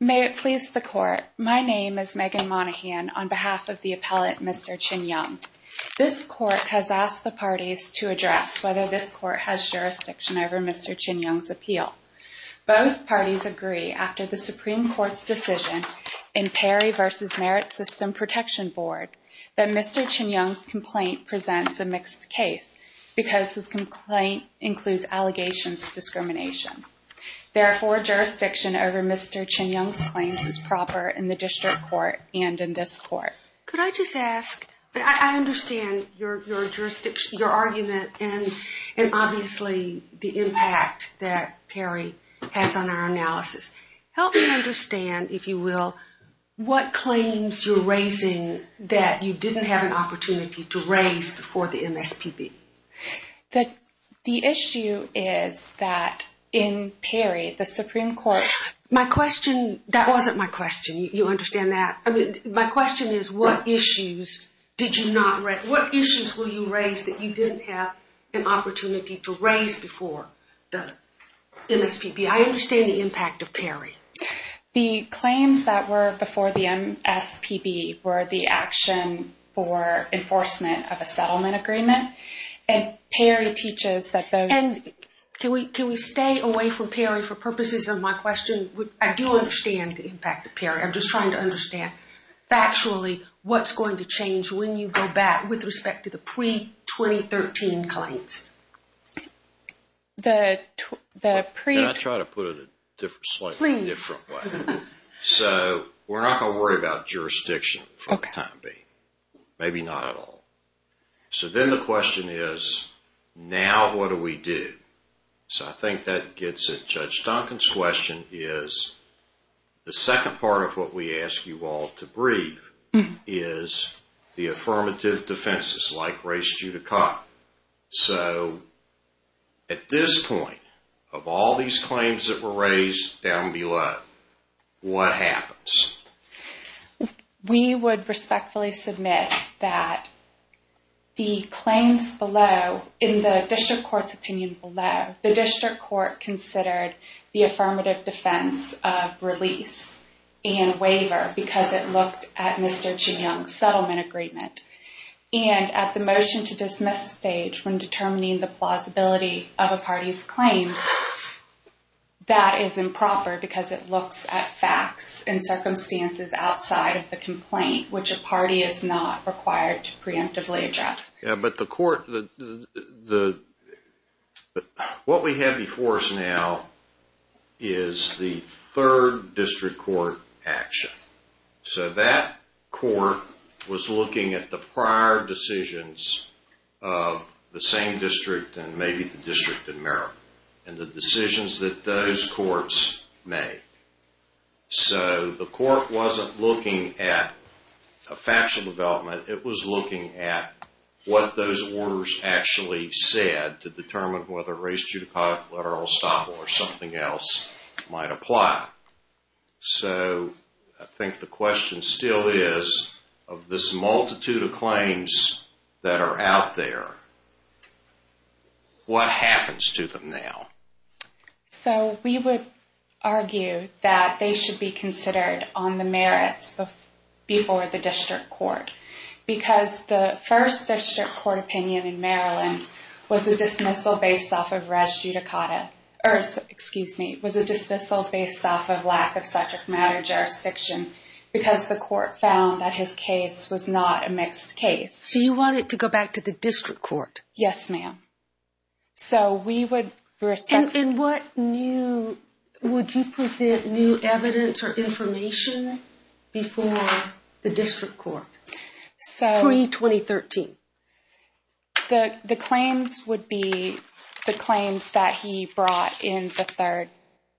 May it please the court, my name is Megan Monahan on behalf of the appellate Mr. Chin-Young. This court has asked the parties to address whether this court has jurisdiction over Mr. Chin-Young's appeal. Both parties agree after the Supreme Court's decision in Perry v. Merit System Protection Board that Mr. Chin-Young's complaint presents a mixed case because his complaint includes allegations of discrimination. Therefore, jurisdiction over Mr. Chin-Young's claims is proper in the district court and in this court. Could I just ask, I understand your argument and obviously the impact that Perry has on our analysis. Help me understand, if you will, what claims you're raising that you is that in Perry the Supreme Court. My question, that wasn't my question, you understand that. I mean my question is what issues did you not, what issues will you raise that you didn't have an opportunity to raise before the MSPB? I understand the impact of Perry. The claims that were before the MSPB were the action for enforcement of a settlement agreement and Perry teaches that those. Can we stay away from Perry for purposes of my question? I do understand the impact of Perry. I'm just trying to understand factually what's going to change when you go back with respect to the pre-2013 claims. Can I try to put it a different, slightly different way? So we're not going to worry about what do we do? So I think that gets at Judge Duncan's question is the second part of what we ask you all to brief is the affirmative defenses like race judicata. So at this point of all these claims that were raised down below, what happens? We would respectfully submit that the claims below in the district court's opinion below, the district court considered the affirmative defense of release and waiver because it looked at Mr. Chiang's settlement agreement and at the motion to dismiss stage when determining the plausibility of a party's claims, that is improper because it looks at facts and circumstances outside of the complaint which a party is not required to preemptively address. Yeah, but the court, what we have before us now is the third district court action. So that court was looking at the prior decisions of the same district and maybe the District of Maryland and the decisions that those courts made. So the what those orders actually said to determine whether race judicata, literal estoppel or something else might apply. So I think the question still is of this multitude of claims that are out there, what happens to them now? So we would argue that they should be considered on the merits before the first district court opinion in Maryland was a dismissal based off of race judicata, or excuse me, was a dismissal based off of lack of subject matter jurisdiction because the court found that his case was not a mixed case. So you want it to go back to the district court? Yes ma'am. So we would respect... And what new, would you present new evidence or information before the the the claims would be the claims that he brought in the third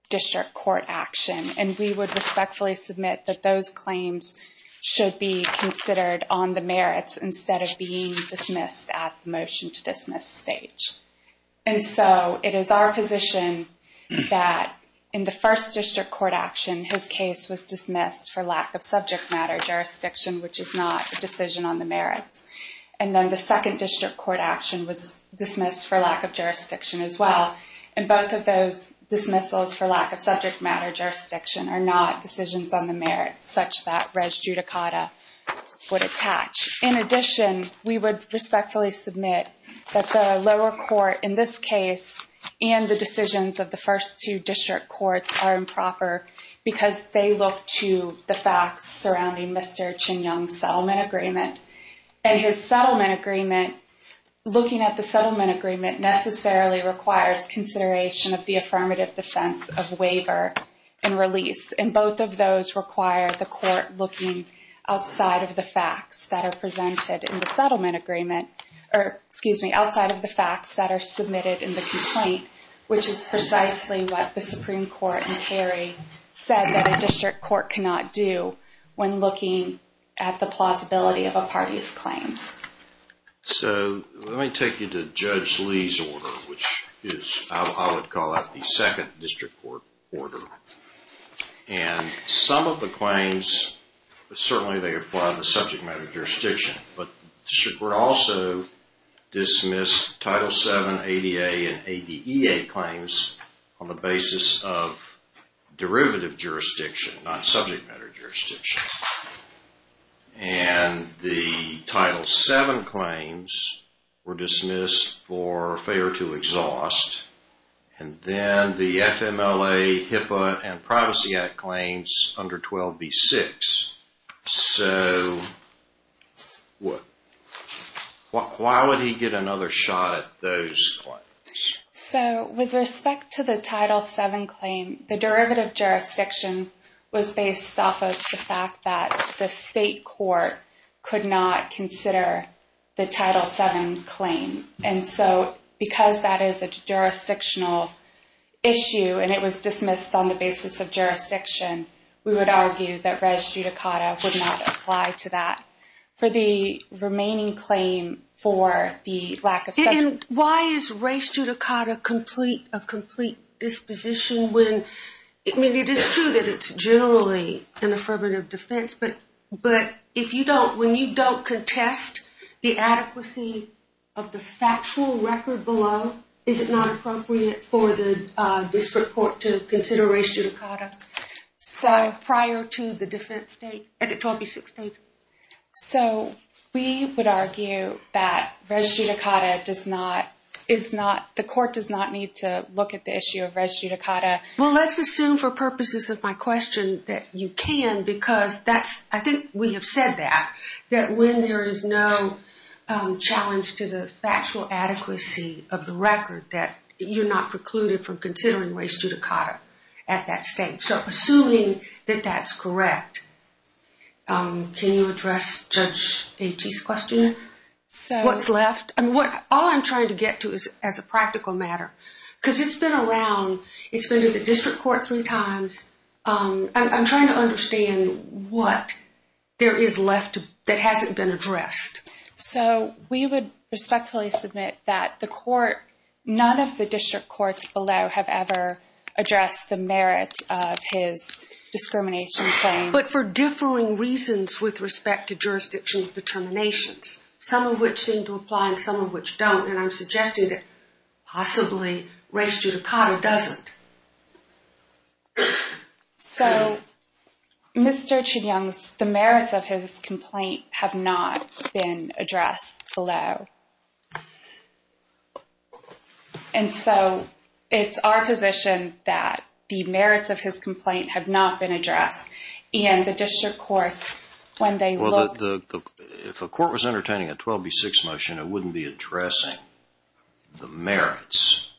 district court action and we would respectfully submit that those claims should be considered on the merits instead of being dismissed at the motion to dismiss stage. And so it is our position that in the first district court action his case was dismissed for lack of subject matter jurisdiction which is not a decision on the merits. And then the second district court action was dismissed for lack of jurisdiction as well and both of those dismissals for lack of subject matter jurisdiction are not decisions on the merits such that res judicata would attach. In addition we would respectfully submit that the lower court in this case and the decisions of the first two district courts are improper because they look to the facts surrounding Mr. Ching Young's settlement agreement and his settlement agreement, looking at the settlement agreement necessarily requires consideration of the affirmative defense of waiver and release and both of those require the court looking outside of the facts that are presented in the settlement agreement or excuse me outside of the facts that are submitted in the complaint which is precisely what the Supreme Court in Perry said that a district court cannot do when looking at the plausibility of a party's claims. So let me take you to Judge Lee's order which is I would call out the second district court order and some of the claims certainly they apply the FMLA and ADEA claims on the basis of derivative jurisdiction not subject matter jurisdiction and the title 7 claims were dismissed for failure to exhaust and then the FMLA HIPAA and Privacy Act claims under 12b6. So what why would he get another shot at those claims? So with respect to the title 7 claim the derivative jurisdiction was based off of the fact that the state court could not consider the title 7 claim and so because that is a jurisdictional issue and it was dismissed on the basis of jurisdiction we would argue that Reg. remaining claim for the lack of... And why is race judicata complete a complete disposition when I mean it is true that it's generally an affirmative defense but but if you don't when you don't contest the adequacy of the factual record below is it not appropriate for the district court to consider race So we would argue that race judicata does not is not the court does not need to look at the issue of race judicata. Well let's assume for purposes of my question that you can because that's I think we have said that that when there is no challenge to the factual adequacy of the record that you're not precluded from considering race judicata at that stage so assuming that that's correct can you address Judge Aitchie's question? So what's left and what all I'm trying to get to is as a practical matter because it's been around it's been to the district court three times I'm trying to understand what there is left that hasn't been addressed. So we would respectfully submit that the court none of the district courts below have ever addressed the merits of his discrimination claims. But for differing reasons with respect to jurisdiction determinations some of which seem to apply and some of which don't and I'm suggesting that possibly race judicata doesn't. So Mr. Chin Young's the merits of his complaint have not been addressed below. And so it's our position that the merits of his complaint have not been addressed and the district courts when they look. If a court was entertaining a 12 v 6 motion it wouldn't be addressing the merits.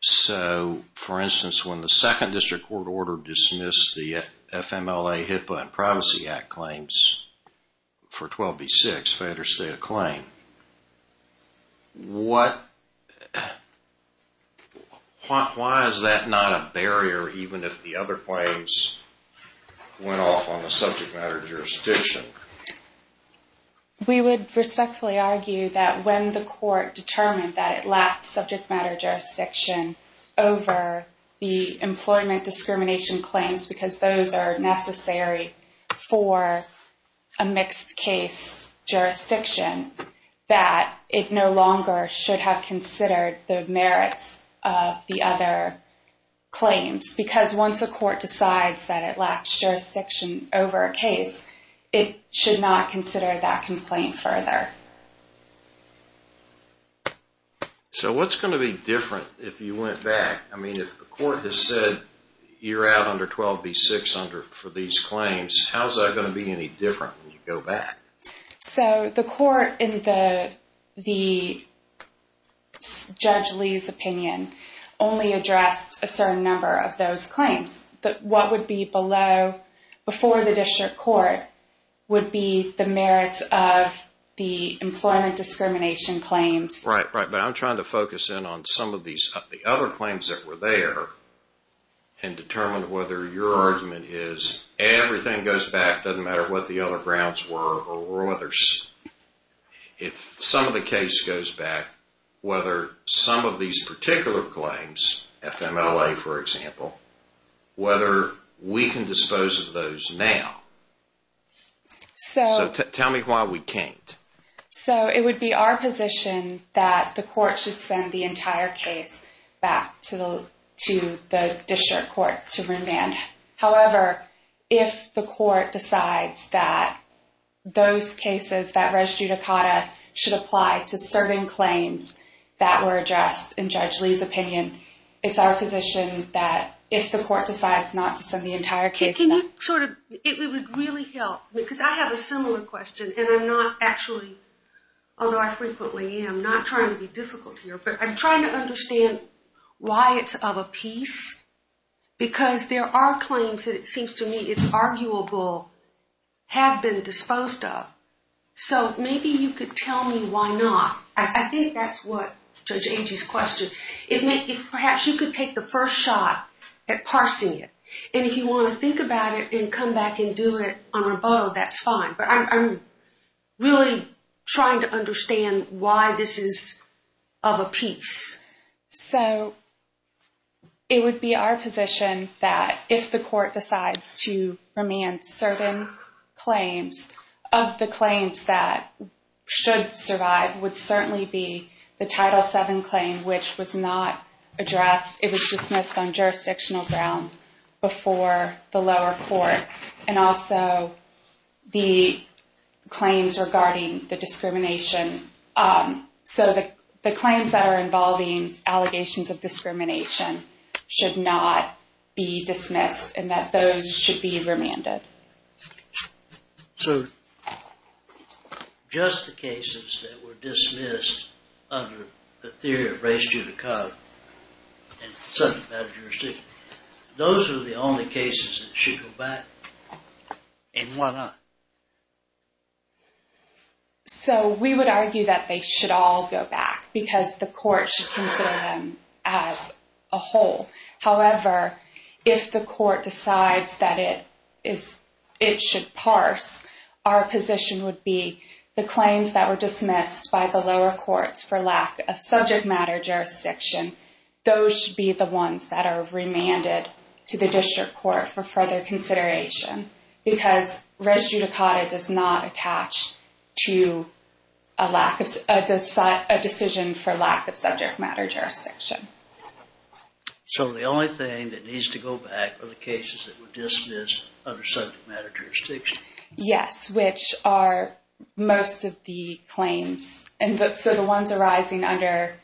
So for instance when the second district court order dismissed the FMLA HIPAA and Promisee Act claims for 12 v 6 federal state of claim. What, why is that not a barrier even if the other claims went off on the subject matter jurisdiction? We would respectfully argue that when the court determined that it lacked subject matter jurisdiction over the employment discrimination claims because those are necessary for a mixed case jurisdiction that it no longer should have considered the merits of the other claims. Because once a court decides that it lacks jurisdiction over a case it should not consider that complaint further. So what's going to be different if you went back I mean if the court has said you're out under 12 v 6 under for these claims how's that going to be any different when you go back? So the court in the Judge Lee's opinion only addressed a certain number of those claims that what would be below before the district court would be the merits of the employment discrimination claims. Right right but I'm trying to focus in on some of these other claims that were there and determine whether your argument is everything goes back doesn't matter what the other grounds were or others if some of the case goes back whether some of these particular claims FMLA for example whether we can dispose of those now. So tell me why we can't. So it would be our position that the court should send the entire case back to the to the district court to remand however if the court decides that those cases that res judicata should apply to certain claims that were addressed in Judge Lee's opinion it's our position that if the court decides not to send the entire case back. It would really help because I have a similar question and I'm not actually although I frequently am not trying to be difficult here but I'm trying to understand why it's of a piece because there are claims that it seems to me it's arguable have been disposed of. So maybe you could tell me why not. I think that's what Judge Agee's question it may be perhaps you could take the first shot at parsing it and if you want to think about it and come back and do it on rebuttal that's fine but I'm really trying to understand why this is of a piece. So it would be our position that if the court decides to remand certain claims of the claims that should survive would certainly be the title 7 claim which was not addressed it was dismissed on jurisdictional grounds before the lower court and also the claims regarding the discrimination so that the claims that are involving allegations of discrimination should not be dismissed and that those should be remanded. So just the cases that were those are the only cases that should go back and why not? So we would argue that they should all go back because the court should consider them as a whole however if the court decides that it is it should parse our position would be the claims that were dismissed by the lower courts for lack of subject matter jurisdiction those should be the ones that are remanded to the district court for further consideration because res judicata does not attach to a lack of a decision for lack of subject matter jurisdiction. So the only thing that needs to go back are the cases that were dismissed under subject matter jurisdiction? Yes which are most of the claims and so the ones arising under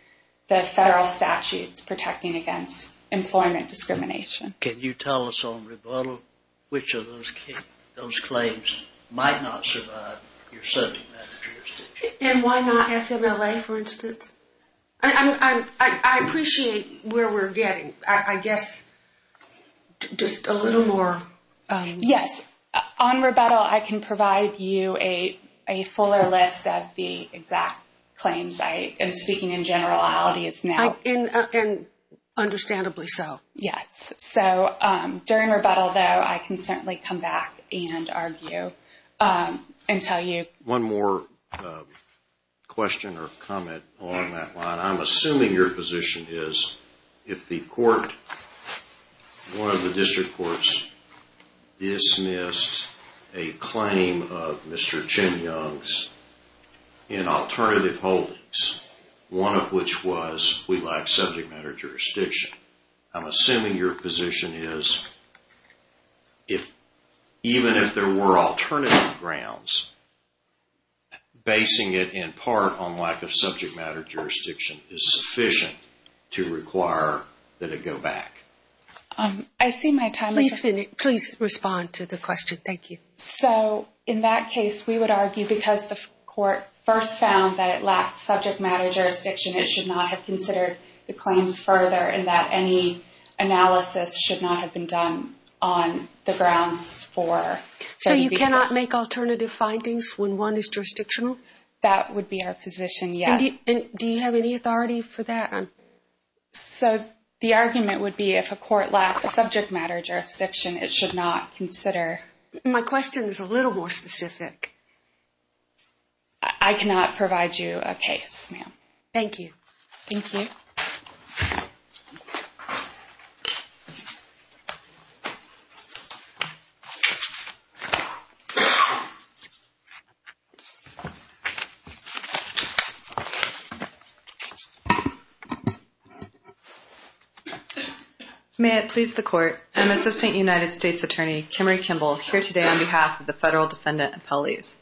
the federal statutes protecting against employment discrimination. Can you tell us on rebuttal which of those claims might not survive your subject matter jurisdiction? And why not FMLA for instance? I mean I appreciate where we're getting I guess just a little more. Yes on rebuttal I can provide you a fuller list of the exact claims I am speaking in generalities now. And understandably so. Yes so during rebuttal though I can certainly come back and argue and tell you. One more question or comment on that line. I'm assuming your position is if the court one of the district courts dismissed a claim of Mr. Chin Young's in alternative holdings one of which was we like subject matter jurisdiction. I'm facing it in part on lack of subject matter jurisdiction is sufficient to require that it go back. I see my time is up. Please respond to the question thank you. So in that case we would argue because the court first found that it lacked subject matter jurisdiction it should not have considered the claims further and that any analysis should not have been done on the grounds for. So you that would be our position yes. Do you have any authority for that? So the argument would be if a court lacks subject matter jurisdiction it should not consider. My question is a little more specific. I cannot provide you a case ma'am. Thank you. May it please the court. I'm Assistant United States Attorney Kimmery Kimball here today on behalf of the federal defendant appellees.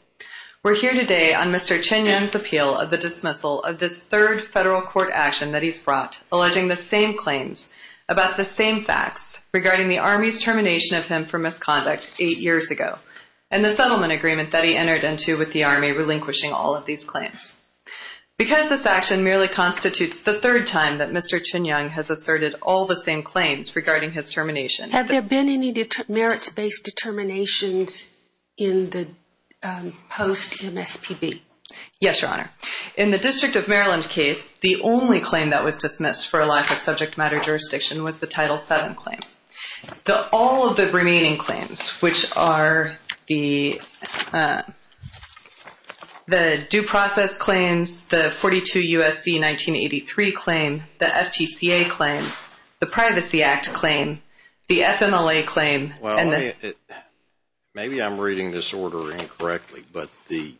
We're here today on Mr. Chin Young's appeal of the dismissal of this third federal court action that he's brought alleging the same claims about the same facts regarding the Army's termination of him for misconduct eight years ago and the all of these claims. Because this action merely constitutes the third time that Mr. Chin Young has asserted all the same claims regarding his termination. Have there been any merits based determinations in the post MSPB? Yes your honor. In the District of Maryland case the only claim that was dismissed for a lack of subject matter jurisdiction was the title 7 claim. The all of the due process claims, the 42 USC 1983 claim, the FTCA claim, the Privacy Act claim, the FMLA claim. Maybe I'm reading this order incorrectly but the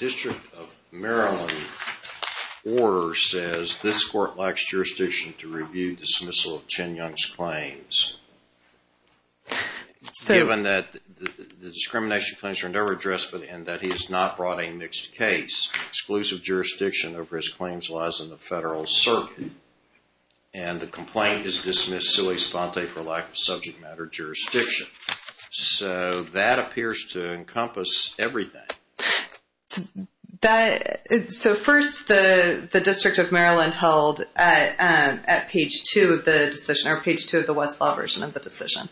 District of Maryland order says this court lacks jurisdiction to review the dismissal of Chin Young's claims. So even that the discrimination claims are never addressed but in that he has not brought a mixed case. Exclusive jurisdiction over his claims lies in the federal circuit and the complaint is dismissed sui sponte for lack of subject matter jurisdiction. So that appears to encompass everything. So first the the District of Maryland held at page two of the decision or page two of the Westlaw version of the decision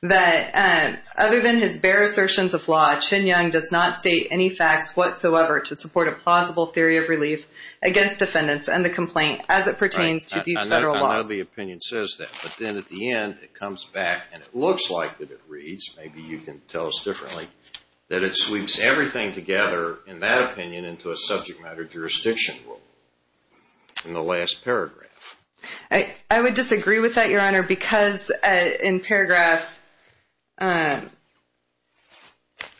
that other than his bare assertions of law, Chin Young does not state any facts whatsoever to support a plausible theory of relief against defendants and the complaint as it pertains to these federal laws. I know the opinion says that but then at the end it comes back and it looks like that it reads, maybe you can tell us differently, that it sweeps everything together in that opinion into a subject matter jurisdiction rule in the last paragraph. I would disagree with that your honor because in paragraph at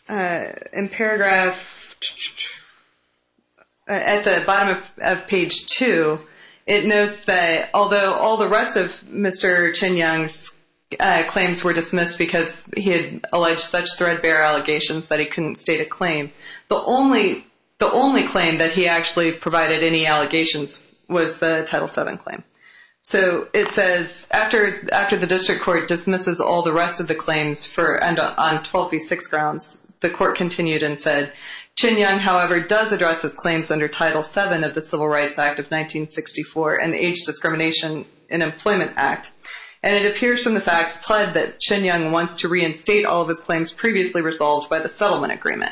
the bottom of page two it notes that although all the rest of Mr. Chin Young's claims were dismissed because he had alleged such threadbare allegations that he couldn't state a claim, the only the only claim that he actually provided any allegations was the title 7 claim. So it after the district court dismisses all the rest of the claims for and on 12b6 grounds, the court continued and said Chin Young however does address his claims under title 7 of the Civil Rights Act of 1964 and age discrimination in Employment Act and it appears from the facts pled that Chin Young wants to reinstate all of his claims previously resolved by the settlement agreement.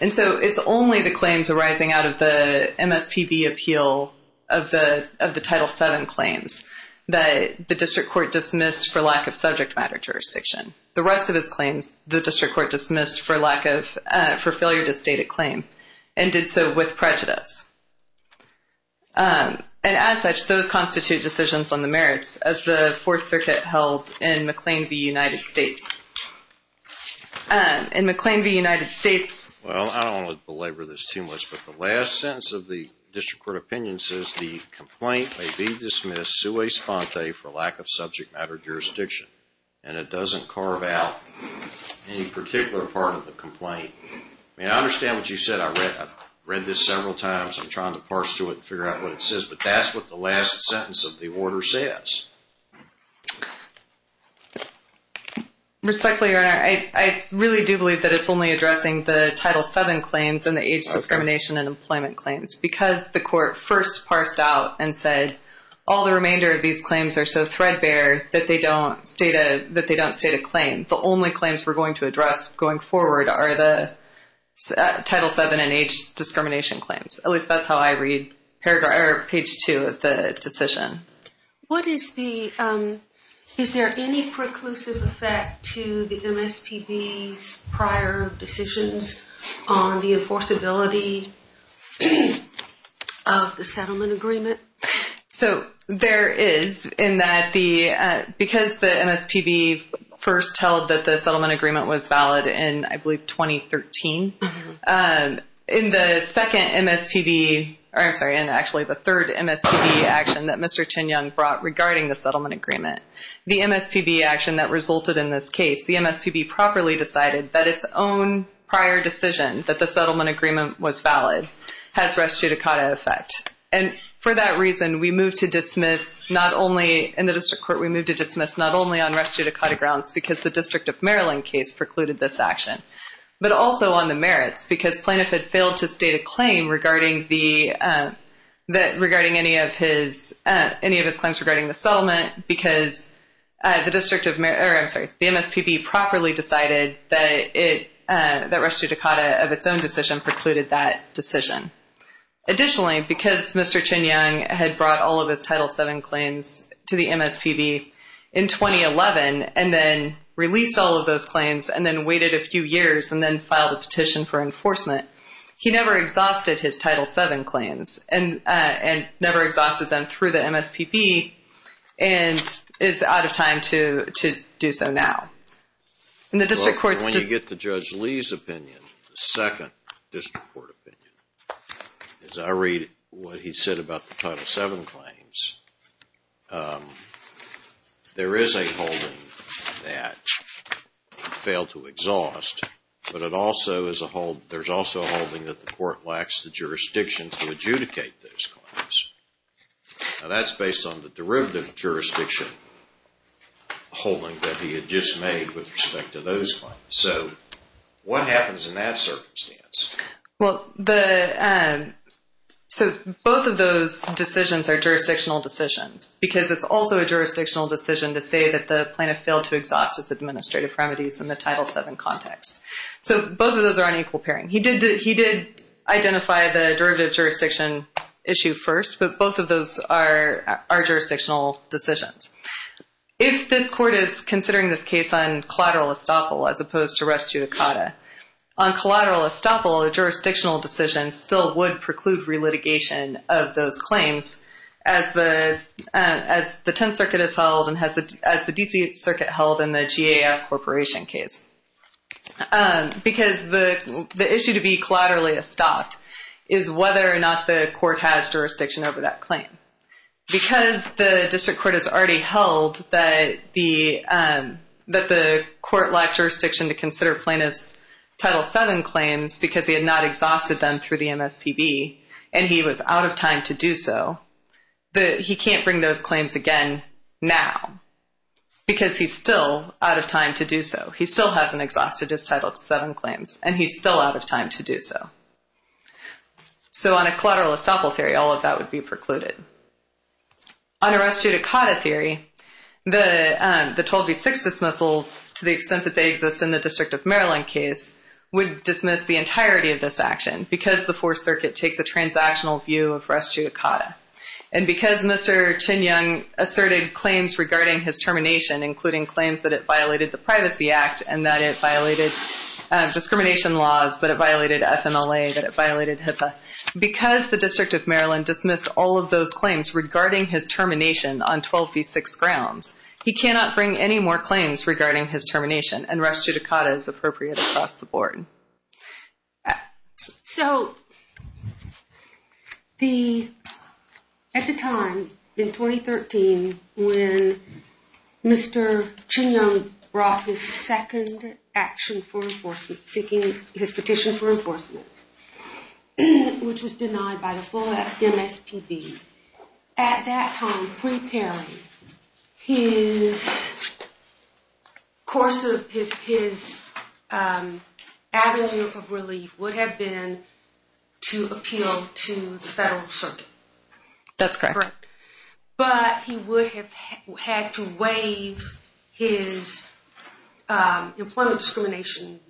And so it's only the claims arising out of the MSPB appeal of the of the title 7 claims that the district court dismissed for lack of subject matter jurisdiction. The rest of his claims the district court dismissed for lack of for failure to state a claim and did so with prejudice. And as such those constitute decisions on the merits as the Fourth Circuit held in McLean v. United States. In McLean v. United States. Well I don't want to belabor this too much but the last sentence of the district court opinion says the complaint may be dismissed sui sponte for lack of subject matter jurisdiction and it doesn't carve out any particular part of the complaint. I mean I understand what you said I read this several times I'm trying to parse to it and figure out what it says but that's what the last sentence of the order says. Respectfully your honor I really do believe that it's only addressing the title 7 claims and the discrimination and employment claims because the court first parsed out and said all the remainder of these claims are so threadbare that they don't state a that they don't state a claim. The only claims we're going to address going forward are the title 7 and H discrimination claims. At least that's how I read paragraph or page 2 of the decision. What is the is there any preclusive effect to the MSPB's prior decisions on the enforceability of the settlement agreement? So there is in that the because the MSPB first held that the settlement agreement was valid in I believe 2013. In the second MSPB or I'm sorry and actually the third MSPB action that Mr. Tin Young brought regarding the action that resulted in this case the MSPB properly decided that its own prior decision that the settlement agreement was valid has res judicata effect and for that reason we move to dismiss not only in the district court we move to dismiss not only on res judicata grounds because the District of Maryland case precluded this action but also on the merits because plaintiff had failed to state a claim regarding the that regarding any of his any of his claims regarding the settlement because the district of Maryland sorry the MSPB properly decided that it that res judicata of its own decision precluded that decision. Additionally because Mr. Tin Young had brought all of his title 7 claims to the MSPB in 2011 and then released all of those claims and then waited a few years and then filed a petition for enforcement he never exhausted his title 7 claims and and never exhausted them through the MSPB and is out of time to to do so now and the district court. When you get the Judge Lee's opinion the second district court opinion as I read what he said about the title 7 claims there is a holding that failed to exhaust but it also is a hold there's also a holding that the court lacks the jurisdiction to the derivative jurisdiction holding that he had just made with respect to those claims. So what happens in that circumstance? Well the and so both of those decisions are jurisdictional decisions because it's also a jurisdictional decision to say that the plaintiff failed to exhaust his administrative remedies in the title 7 context. So both of those are on equal pairing. He did he did identify the derivative jurisdiction issue first but both of those are our jurisdictional decisions. If this court is considering this case on collateral estoppel as opposed to res judicata on collateral estoppel a jurisdictional decision still would preclude re-litigation of those claims as the as the Tenth Circuit is held and has the as the DC Circuit held in the GAF corporation case because the the issue to be collaterally estopped is whether or not the court has jurisdiction over that claim. Because the district court has already held that the that the court lacked jurisdiction to consider plaintiff's title 7 claims because he had not exhausted them through the MSPB and he was out of time to do so that he can't bring those claims again now because he's still out of time to do so he still hasn't exhausted his title 7 claims and he's still out of time to do so. So on a collateral estoppel theory all of that would be precluded. On a res judicata theory the the 12 v 6 dismissals to the extent that they exist in the District of Maryland case would dismiss the entirety of this action because the Fourth Circuit takes a transactional view of res judicata and because Mr. Chin Young asserted claims regarding his termination including claims that it violated discrimination laws that it violated FMLA that it violated HIPAA because the District of Maryland dismissed all of those claims regarding his termination on 12 v 6 grounds he cannot bring any more claims regarding his termination and res judicata is appropriate across the board. So the at the time in 2013 when Mr. Chin Young brought his second action for enforcement seeking his petition for enforcement which was denied by the full MSPB at that time preparing his course of his his avenue of relief would have been to appeal to the Federal Circuit. That's correct. But he would have had to waive his employment discrimination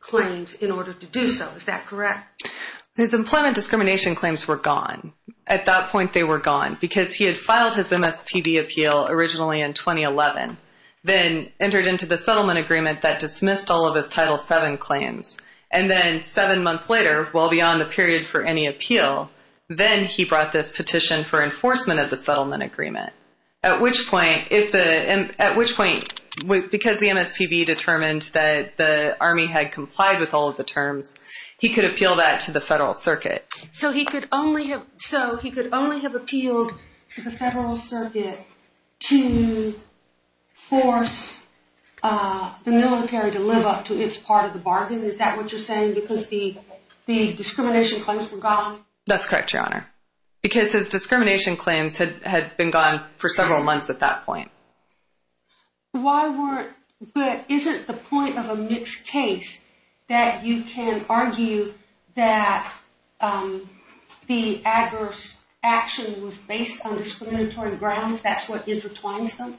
claims in order to do so is that correct? His employment discrimination claims were gone at that point they were gone because he had filed his MSPB appeal originally in 2011 then entered into the settlement agreement that dismissed all of his title 7 claims and then seven months later well beyond the period for any appeal then he brought this petition for enforcement of the settlement agreement at which point if the and at which point with because the MSPB determined that the army had complied with all of the terms he could appeal that to the Federal Circuit. So he could only have so he could only have appealed to the Federal Circuit to force the military to live up to its part of the bargain is that what you're saying because the the discrimination claims were gone? That's correct your honor because his discrimination claims had had been gone for several months at that point. Why weren't but isn't the point of a mixed case that you can argue that the adverse action was based on discriminatory grounds that's what intertwines them?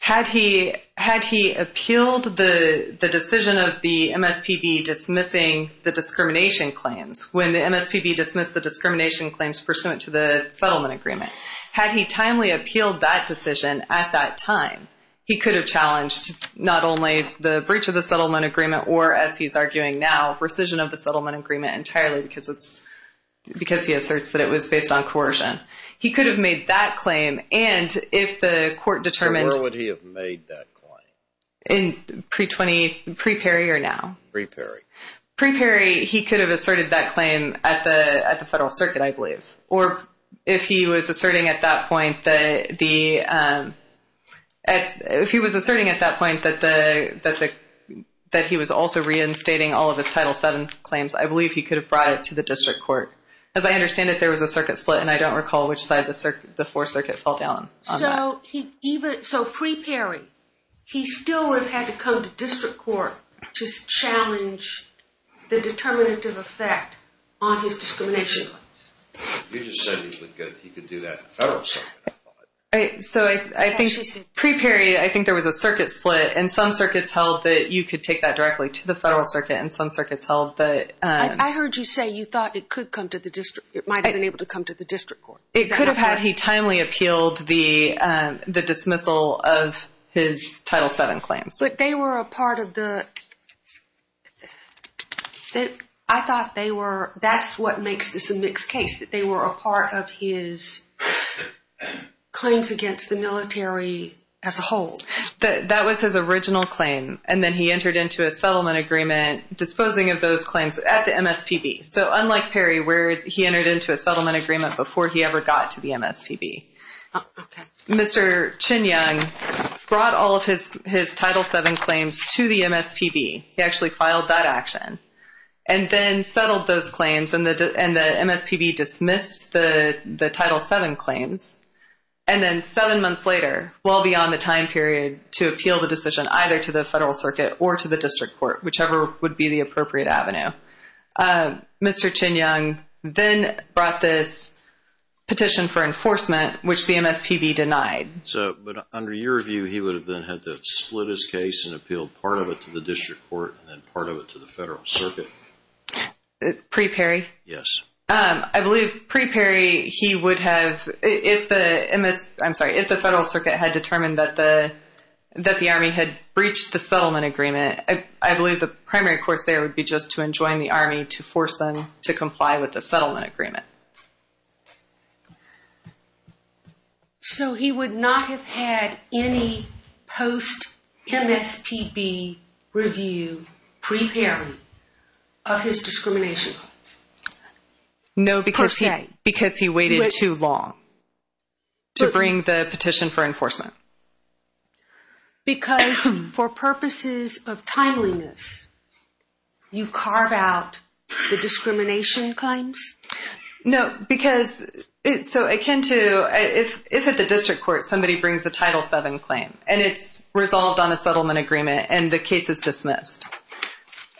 Had he had he appealed the the decision of the MSPB dismissing the discrimination claims when the MSPB dismissed the discrimination claims pursuant to the settlement agreement had he timely appealed that decision at that time he could have challenged not only the breach of the settlement agreement or as he's arguing now rescission of the settlement agreement entirely because it's because he asserts that it was based on coercion. He could have made that claim and if the court determined. Where would he have made that claim? In pre 20 he could have asserted that claim at the at the Federal Circuit I believe or if he was asserting at that point that the if he was asserting at that point that the that the that he was also reinstating all of his title 7 claims I believe he could have brought it to the district court. As I understand it there was a circuit split and I don't recall which side the circuit the fourth circuit fell down. So he even so pre Perry he still would have had to come to the district court. It might have been able to come to the district court. It could have had he timely appealed the the dismissal of his title 7 claims. But they were a part of the I thought they were that's what makes this a mixed case that they were a part of his claims against the military as a whole. That that was his original claim and then he entered into a settlement agreement disposing of those claims at the MSPB. So unlike Perry where he entered into a settlement agreement before he ever got to the MSPB. Mr. Chin Young brought all of his his title 7 claims to the MSPB. He actually filed that action and then settled those claims and the and the MSPB dismissed the the title 7 claims. And then seven months later well beyond the time period to appeal the decision either to the federal circuit or to the district court whichever would be the appropriate avenue. Mr. Chin Young then brought this petition for enforcement which the MSPB denied. So but under your view he would have been had to split his case and appealed part of it to the district court and part of it to the Federal Circuit. Pre Perry? Yes. I believe pre Perry he would have if the MS I'm sorry if the Federal Circuit had determined that the that the army had breached the settlement agreement. I believe the primary course there would be just to he would not have had any post MSPB review pre Perry of his discrimination. No because he because he waited too long to bring the petition for enforcement. Because for purposes of timeliness you carve out the discrimination claims? No because it's so akin to if if at the district court somebody brings the title 7 claim and it's resolved on a settlement agreement and the case is dismissed.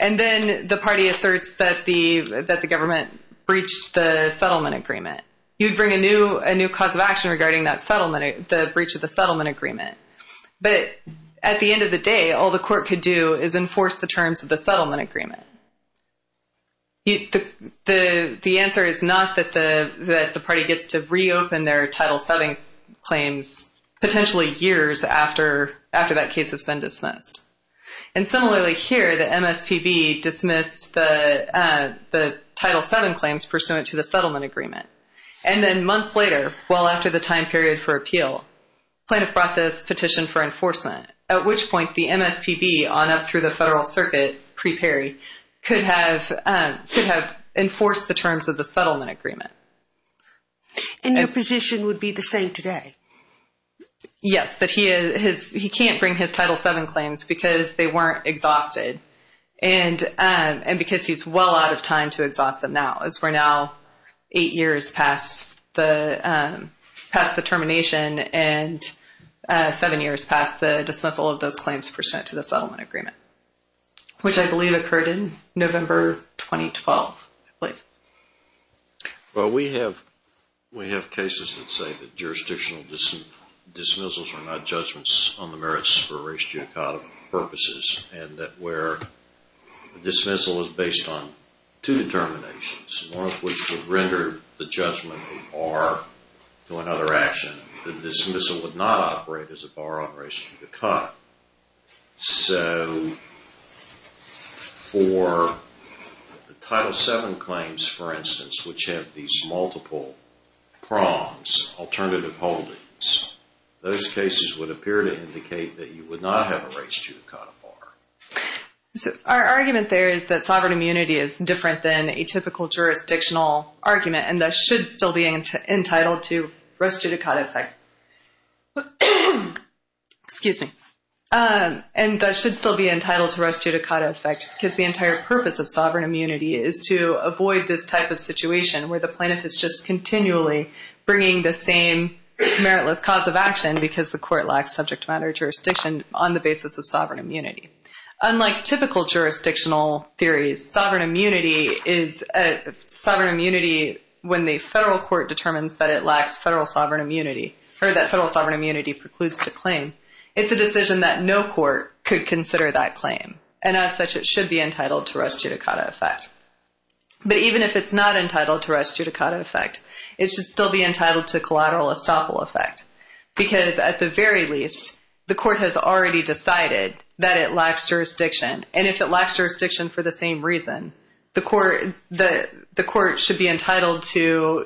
And then the party asserts that the that the government breached the settlement agreement. You'd bring a new a new cause of action regarding that settlement the breach of the settlement agreement. But at the end of the day all the court could do is enforce the terms of the settlement agreement. The the answer is not that the that the party gets to reopen their title 7 claims potentially years after after that case has been dismissed. And similarly here the MSPB dismissed the the title 7 claims pursuant to the settlement agreement. And then months later well after the time period for appeal plaintiff brought this petition for enforcement. At which point the MSPB on up through the terms of the settlement agreement. And your position would be the same today? Yes but he is his he can't bring his title 7 claims because they weren't exhausted. And and because he's well out of time to exhaust them now as we're now eight years past the past the termination and seven years past the dismissal of those claims pursuant to the settlement agreement. Which I believe occurred in November 2012. Well we have we have cases that say that jurisdictional dismissals are not judgments on the merits for race judicata purposes. And that where the dismissal is based on two determinations. One of which would render the judgment a bar to another action. The dismissal would not operate as a bar on race judicata. So for the title 7 claims for instance which have these multiple prongs, alternative holdings, those cases would appear to indicate that you would not have a race judicata bar. So our argument there is that sovereign immunity is different than a typical jurisdictional argument. And that should still be entitled to race judicata effect. Excuse me. And that should still be entitled to race judicata effect because the entire purpose of sovereign immunity is to avoid this type of situation where the plaintiff is just continually bringing the same meritless cause of action because the court lacks subject matter jurisdiction on the basis of sovereign immunity. Unlike typical jurisdictional theories, sovereign immunity, when the federal court determines that it lacks federal sovereign immunity, or that federal sovereign immunity precludes the claim, it's a decision that no court could consider that claim. And as such it should be entitled to race judicata effect. But even if it's not entitled to race judicata effect, it should still be entitled to collateral estoppel effect. Because at the very least the court has already decided that it lacks jurisdiction. And if it lacks jurisdiction for the same reason, the court should be entitled to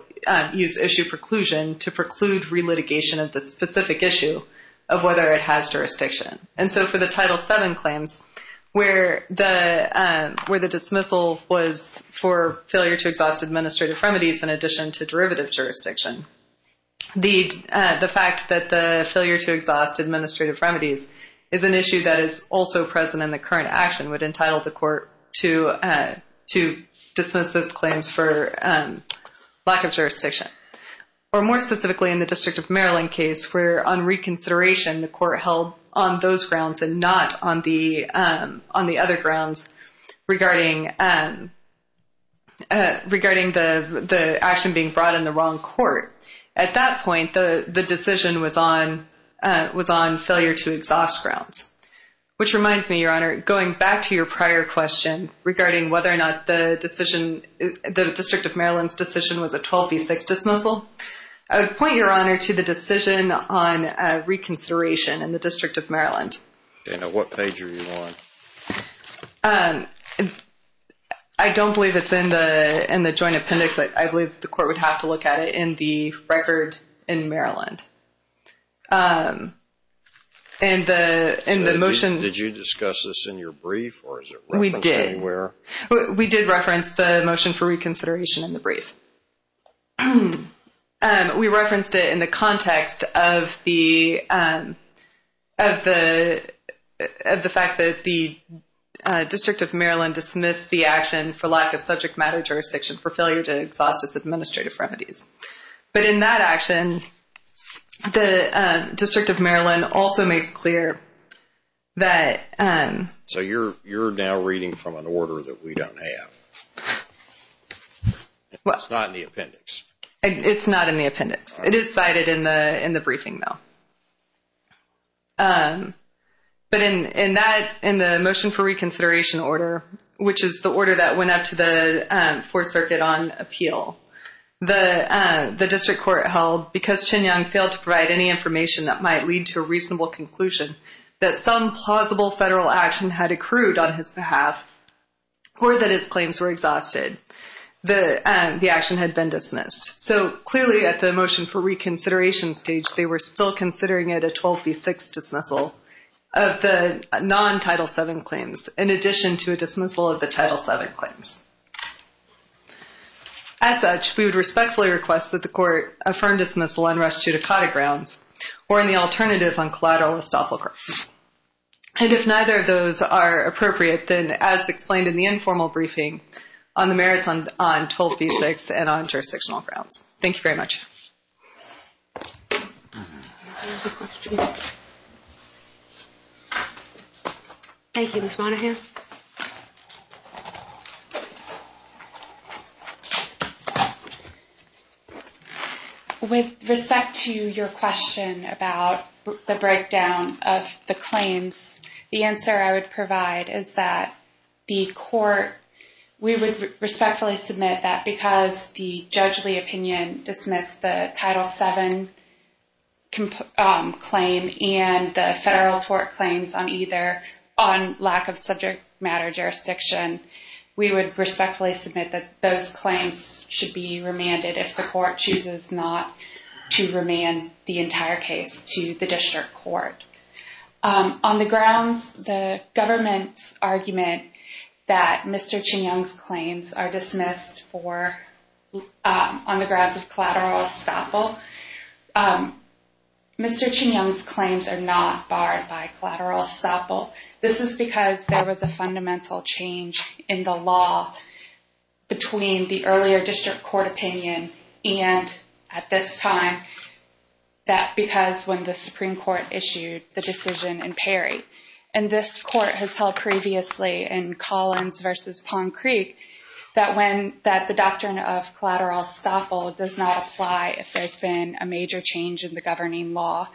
use issue preclusion to preclude re-litigation of the specific issue of whether it has jurisdiction. And so for the Title VII claims, where the dismissal was for failure to exhaust administrative remedies in addition to derivative jurisdiction, the fact that the failure to exhaust administrative remedies is an issue that is also present in the Texas claims for lack of jurisdiction. Or more specifically, in the District of Maryland case, where on reconsideration the court held on those grounds and not on the other grounds regarding the action being brought in the wrong court. At that point, the decision was on failure to exhaust grounds. Which reminds me, Your Honor, going back to your prior question regarding whether or not the decision, the District of Maryland's decision was a 12 v. 6 dismissal. I would point, Your Honor, to the decision on reconsideration in the District of Maryland. Okay, now what page are you on? I don't believe it's in the Joint Appendix. I believe the court would have to look at it in the record in Maryland. And the motion... Did you discuss this in your brief? We did. We did reference the motion for reconsideration in the brief. We referenced it in the context of the fact that the District of Maryland dismissed the action for lack of subject matter jurisdiction for failure to exhaust its administrative remedies. But in that action, the District of Maryland also makes clear that... So you're now reading from an order that we don't have. It's not in the appendix. It's not in the appendix. It is cited in the briefing, though. But in that, in the motion for reconsideration order, which is the order that went up to the Fourth Circuit on appeal, the District Court held, because Chin Young failed to provide any information that might lead to a had accrued on his behalf or that his claims were exhausted, the action had been dismissed. So clearly, at the motion for reconsideration stage, they were still considering it a 12B6 dismissal of the non-Title VII claims, in addition to a dismissal of the Title VII claims. As such, we would respectfully request that the court affirm dismissal on res judicata grounds, or in the alternative, on collateral estoppel court. And if neither of those are appropriate, then as explained in the informal briefing, on the merits on 12B6 and on jurisdictional grounds. Thank you very much. Thank you, Ms. Monahan. With respect to your question about the breakdown of the claims, the answer I would provide is that the court, we would respectfully submit that because the judgely opinion dismissed the Title VII claim and the federal tort claims on lack of subject matter jurisdiction, we would respectfully submit that those claims should be remanded if the court chooses not to remand the entire case to the district court. On the grounds, the government's argument that Mr. Chin Young's claims are dismissed on the grounds of by collateral estoppel, this is because there was a fundamental change in the law between the earlier district court opinion and at this time, that because when the Supreme Court issued the decision in Perry, and this court has held previously in Collins versus Palm Creek, that when that the doctrine of collateral estoppel does not apply if there's been a major change in the governing law.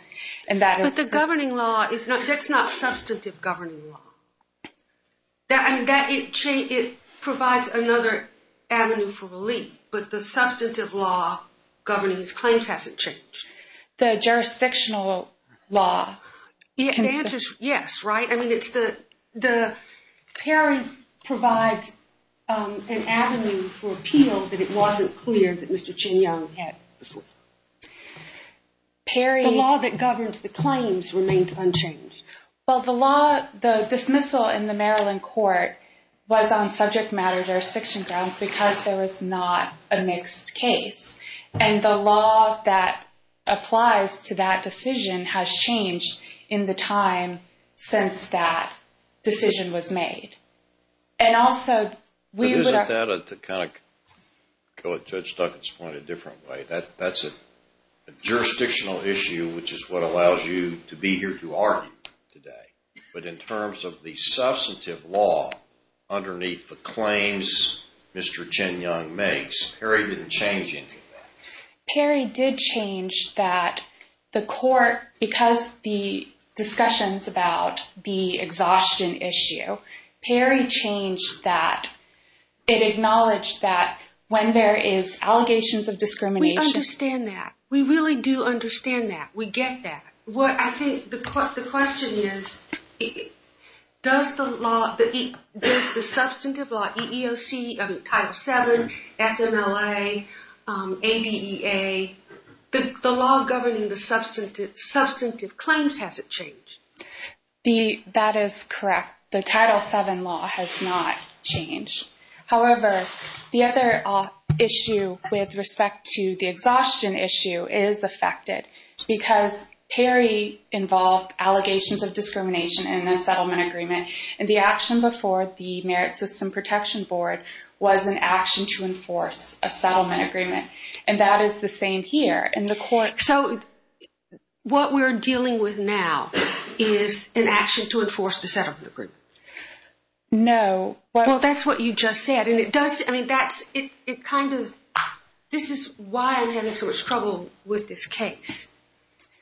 And that is a governing law is not that's not substantive governing law. That it provides another avenue for relief, but the substantive law governing his claims hasn't changed. The jurisdictional law. The answer is yes, right? I mean, it's the Perry provides an avenue for appeal that it wasn't clear that Mr. Chin Young had before. Perry law that governs the claims remains unchanged. Well, the law, the dismissal in the Maryland court was on subject matter jurisdiction grounds because there was not a mixed case. And the law that applies to that decision has changed in the time since that decision was made. And also we would have to kind of go with Judge Duggan's point a different way. That's a jurisdictional issue, which is what allows you to be here to argue today. But in terms of the substantive law underneath the claims Mr. Chin Young makes, Perry didn't change anything. Perry did change that the court, because the discussions about the exhaustion issue, Perry changed that. It acknowledged that when there is allegations of discrimination. We understand that. We really do understand that. We get that. What I think the question is, does the law, the substantive law, EEOC, Title 7, FMLA, ADEA, the law governing the substantive claims hasn't changed? That is correct. The Title 7 law has not changed. However, the other issue with respect to the exhaustion issue is affected because Perry involved allegations of discrimination in the settlement agreement. And the action before the Merit System Protection Board was an action to enforce a settlement agreement. And that is the same here in the court. So what we're dealing with now is an action to enforce the settlement agreement. No. Well, that's what you just said. And it does. I mean, that's it. It kind of this is why I'm having so much trouble with this case.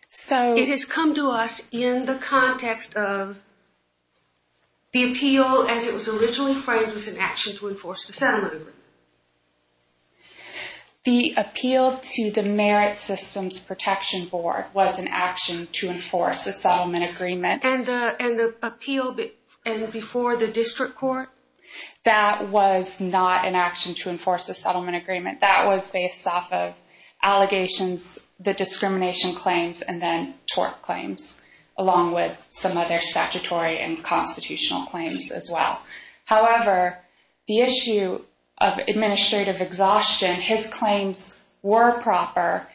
So it has come to us in the context of. The appeal, as it was originally framed, was an action to enforce the settlement agreement. The appeal to the Merit Systems Protection Board was an action to enforce a settlement agreement and the appeal. And before the district court, that was not an action to enforce a settlement agreement that was based off of allegations, the discrimination claims and then tort claims, along with some other statutory and constitutional claims as well. However, the issue of administrative exhaustion, his claims were proper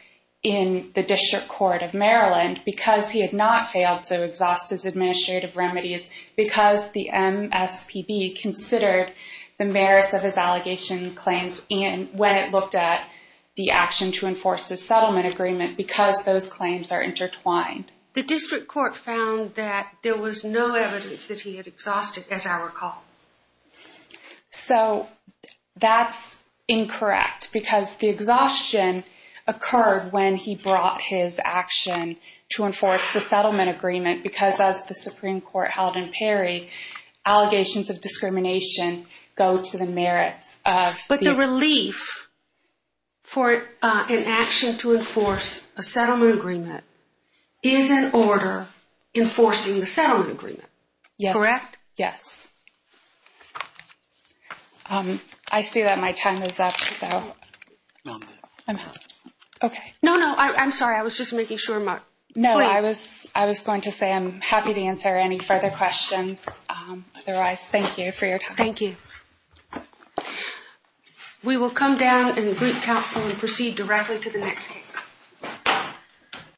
in the district court of Maryland because he had not failed to exhaust his administrative remedies because the MSPB considered the merits of his allegation claims and when it looked at the action to enforce the settlement agreement because those claims are intertwined. The district court found that there was no evidence that he had exhausted, as I recall. So that's incorrect because the exhaustion occurred when he brought his action to enforce the settlement agreement, because as the Supreme Court held in Perry, allegations of discrimination go to the merits of. But the relief. For an action to enforce a settlement agreement is an order enforcing the settlement agreement, correct? Yes. I see that my time is up, so I'm OK. No, no, I'm sorry. I was just making sure. No, I was I was going to say I'm happy to answer any further questions. Otherwise, thank you for your time. Thank you. We will come down and greet counsel and proceed directly to the next case.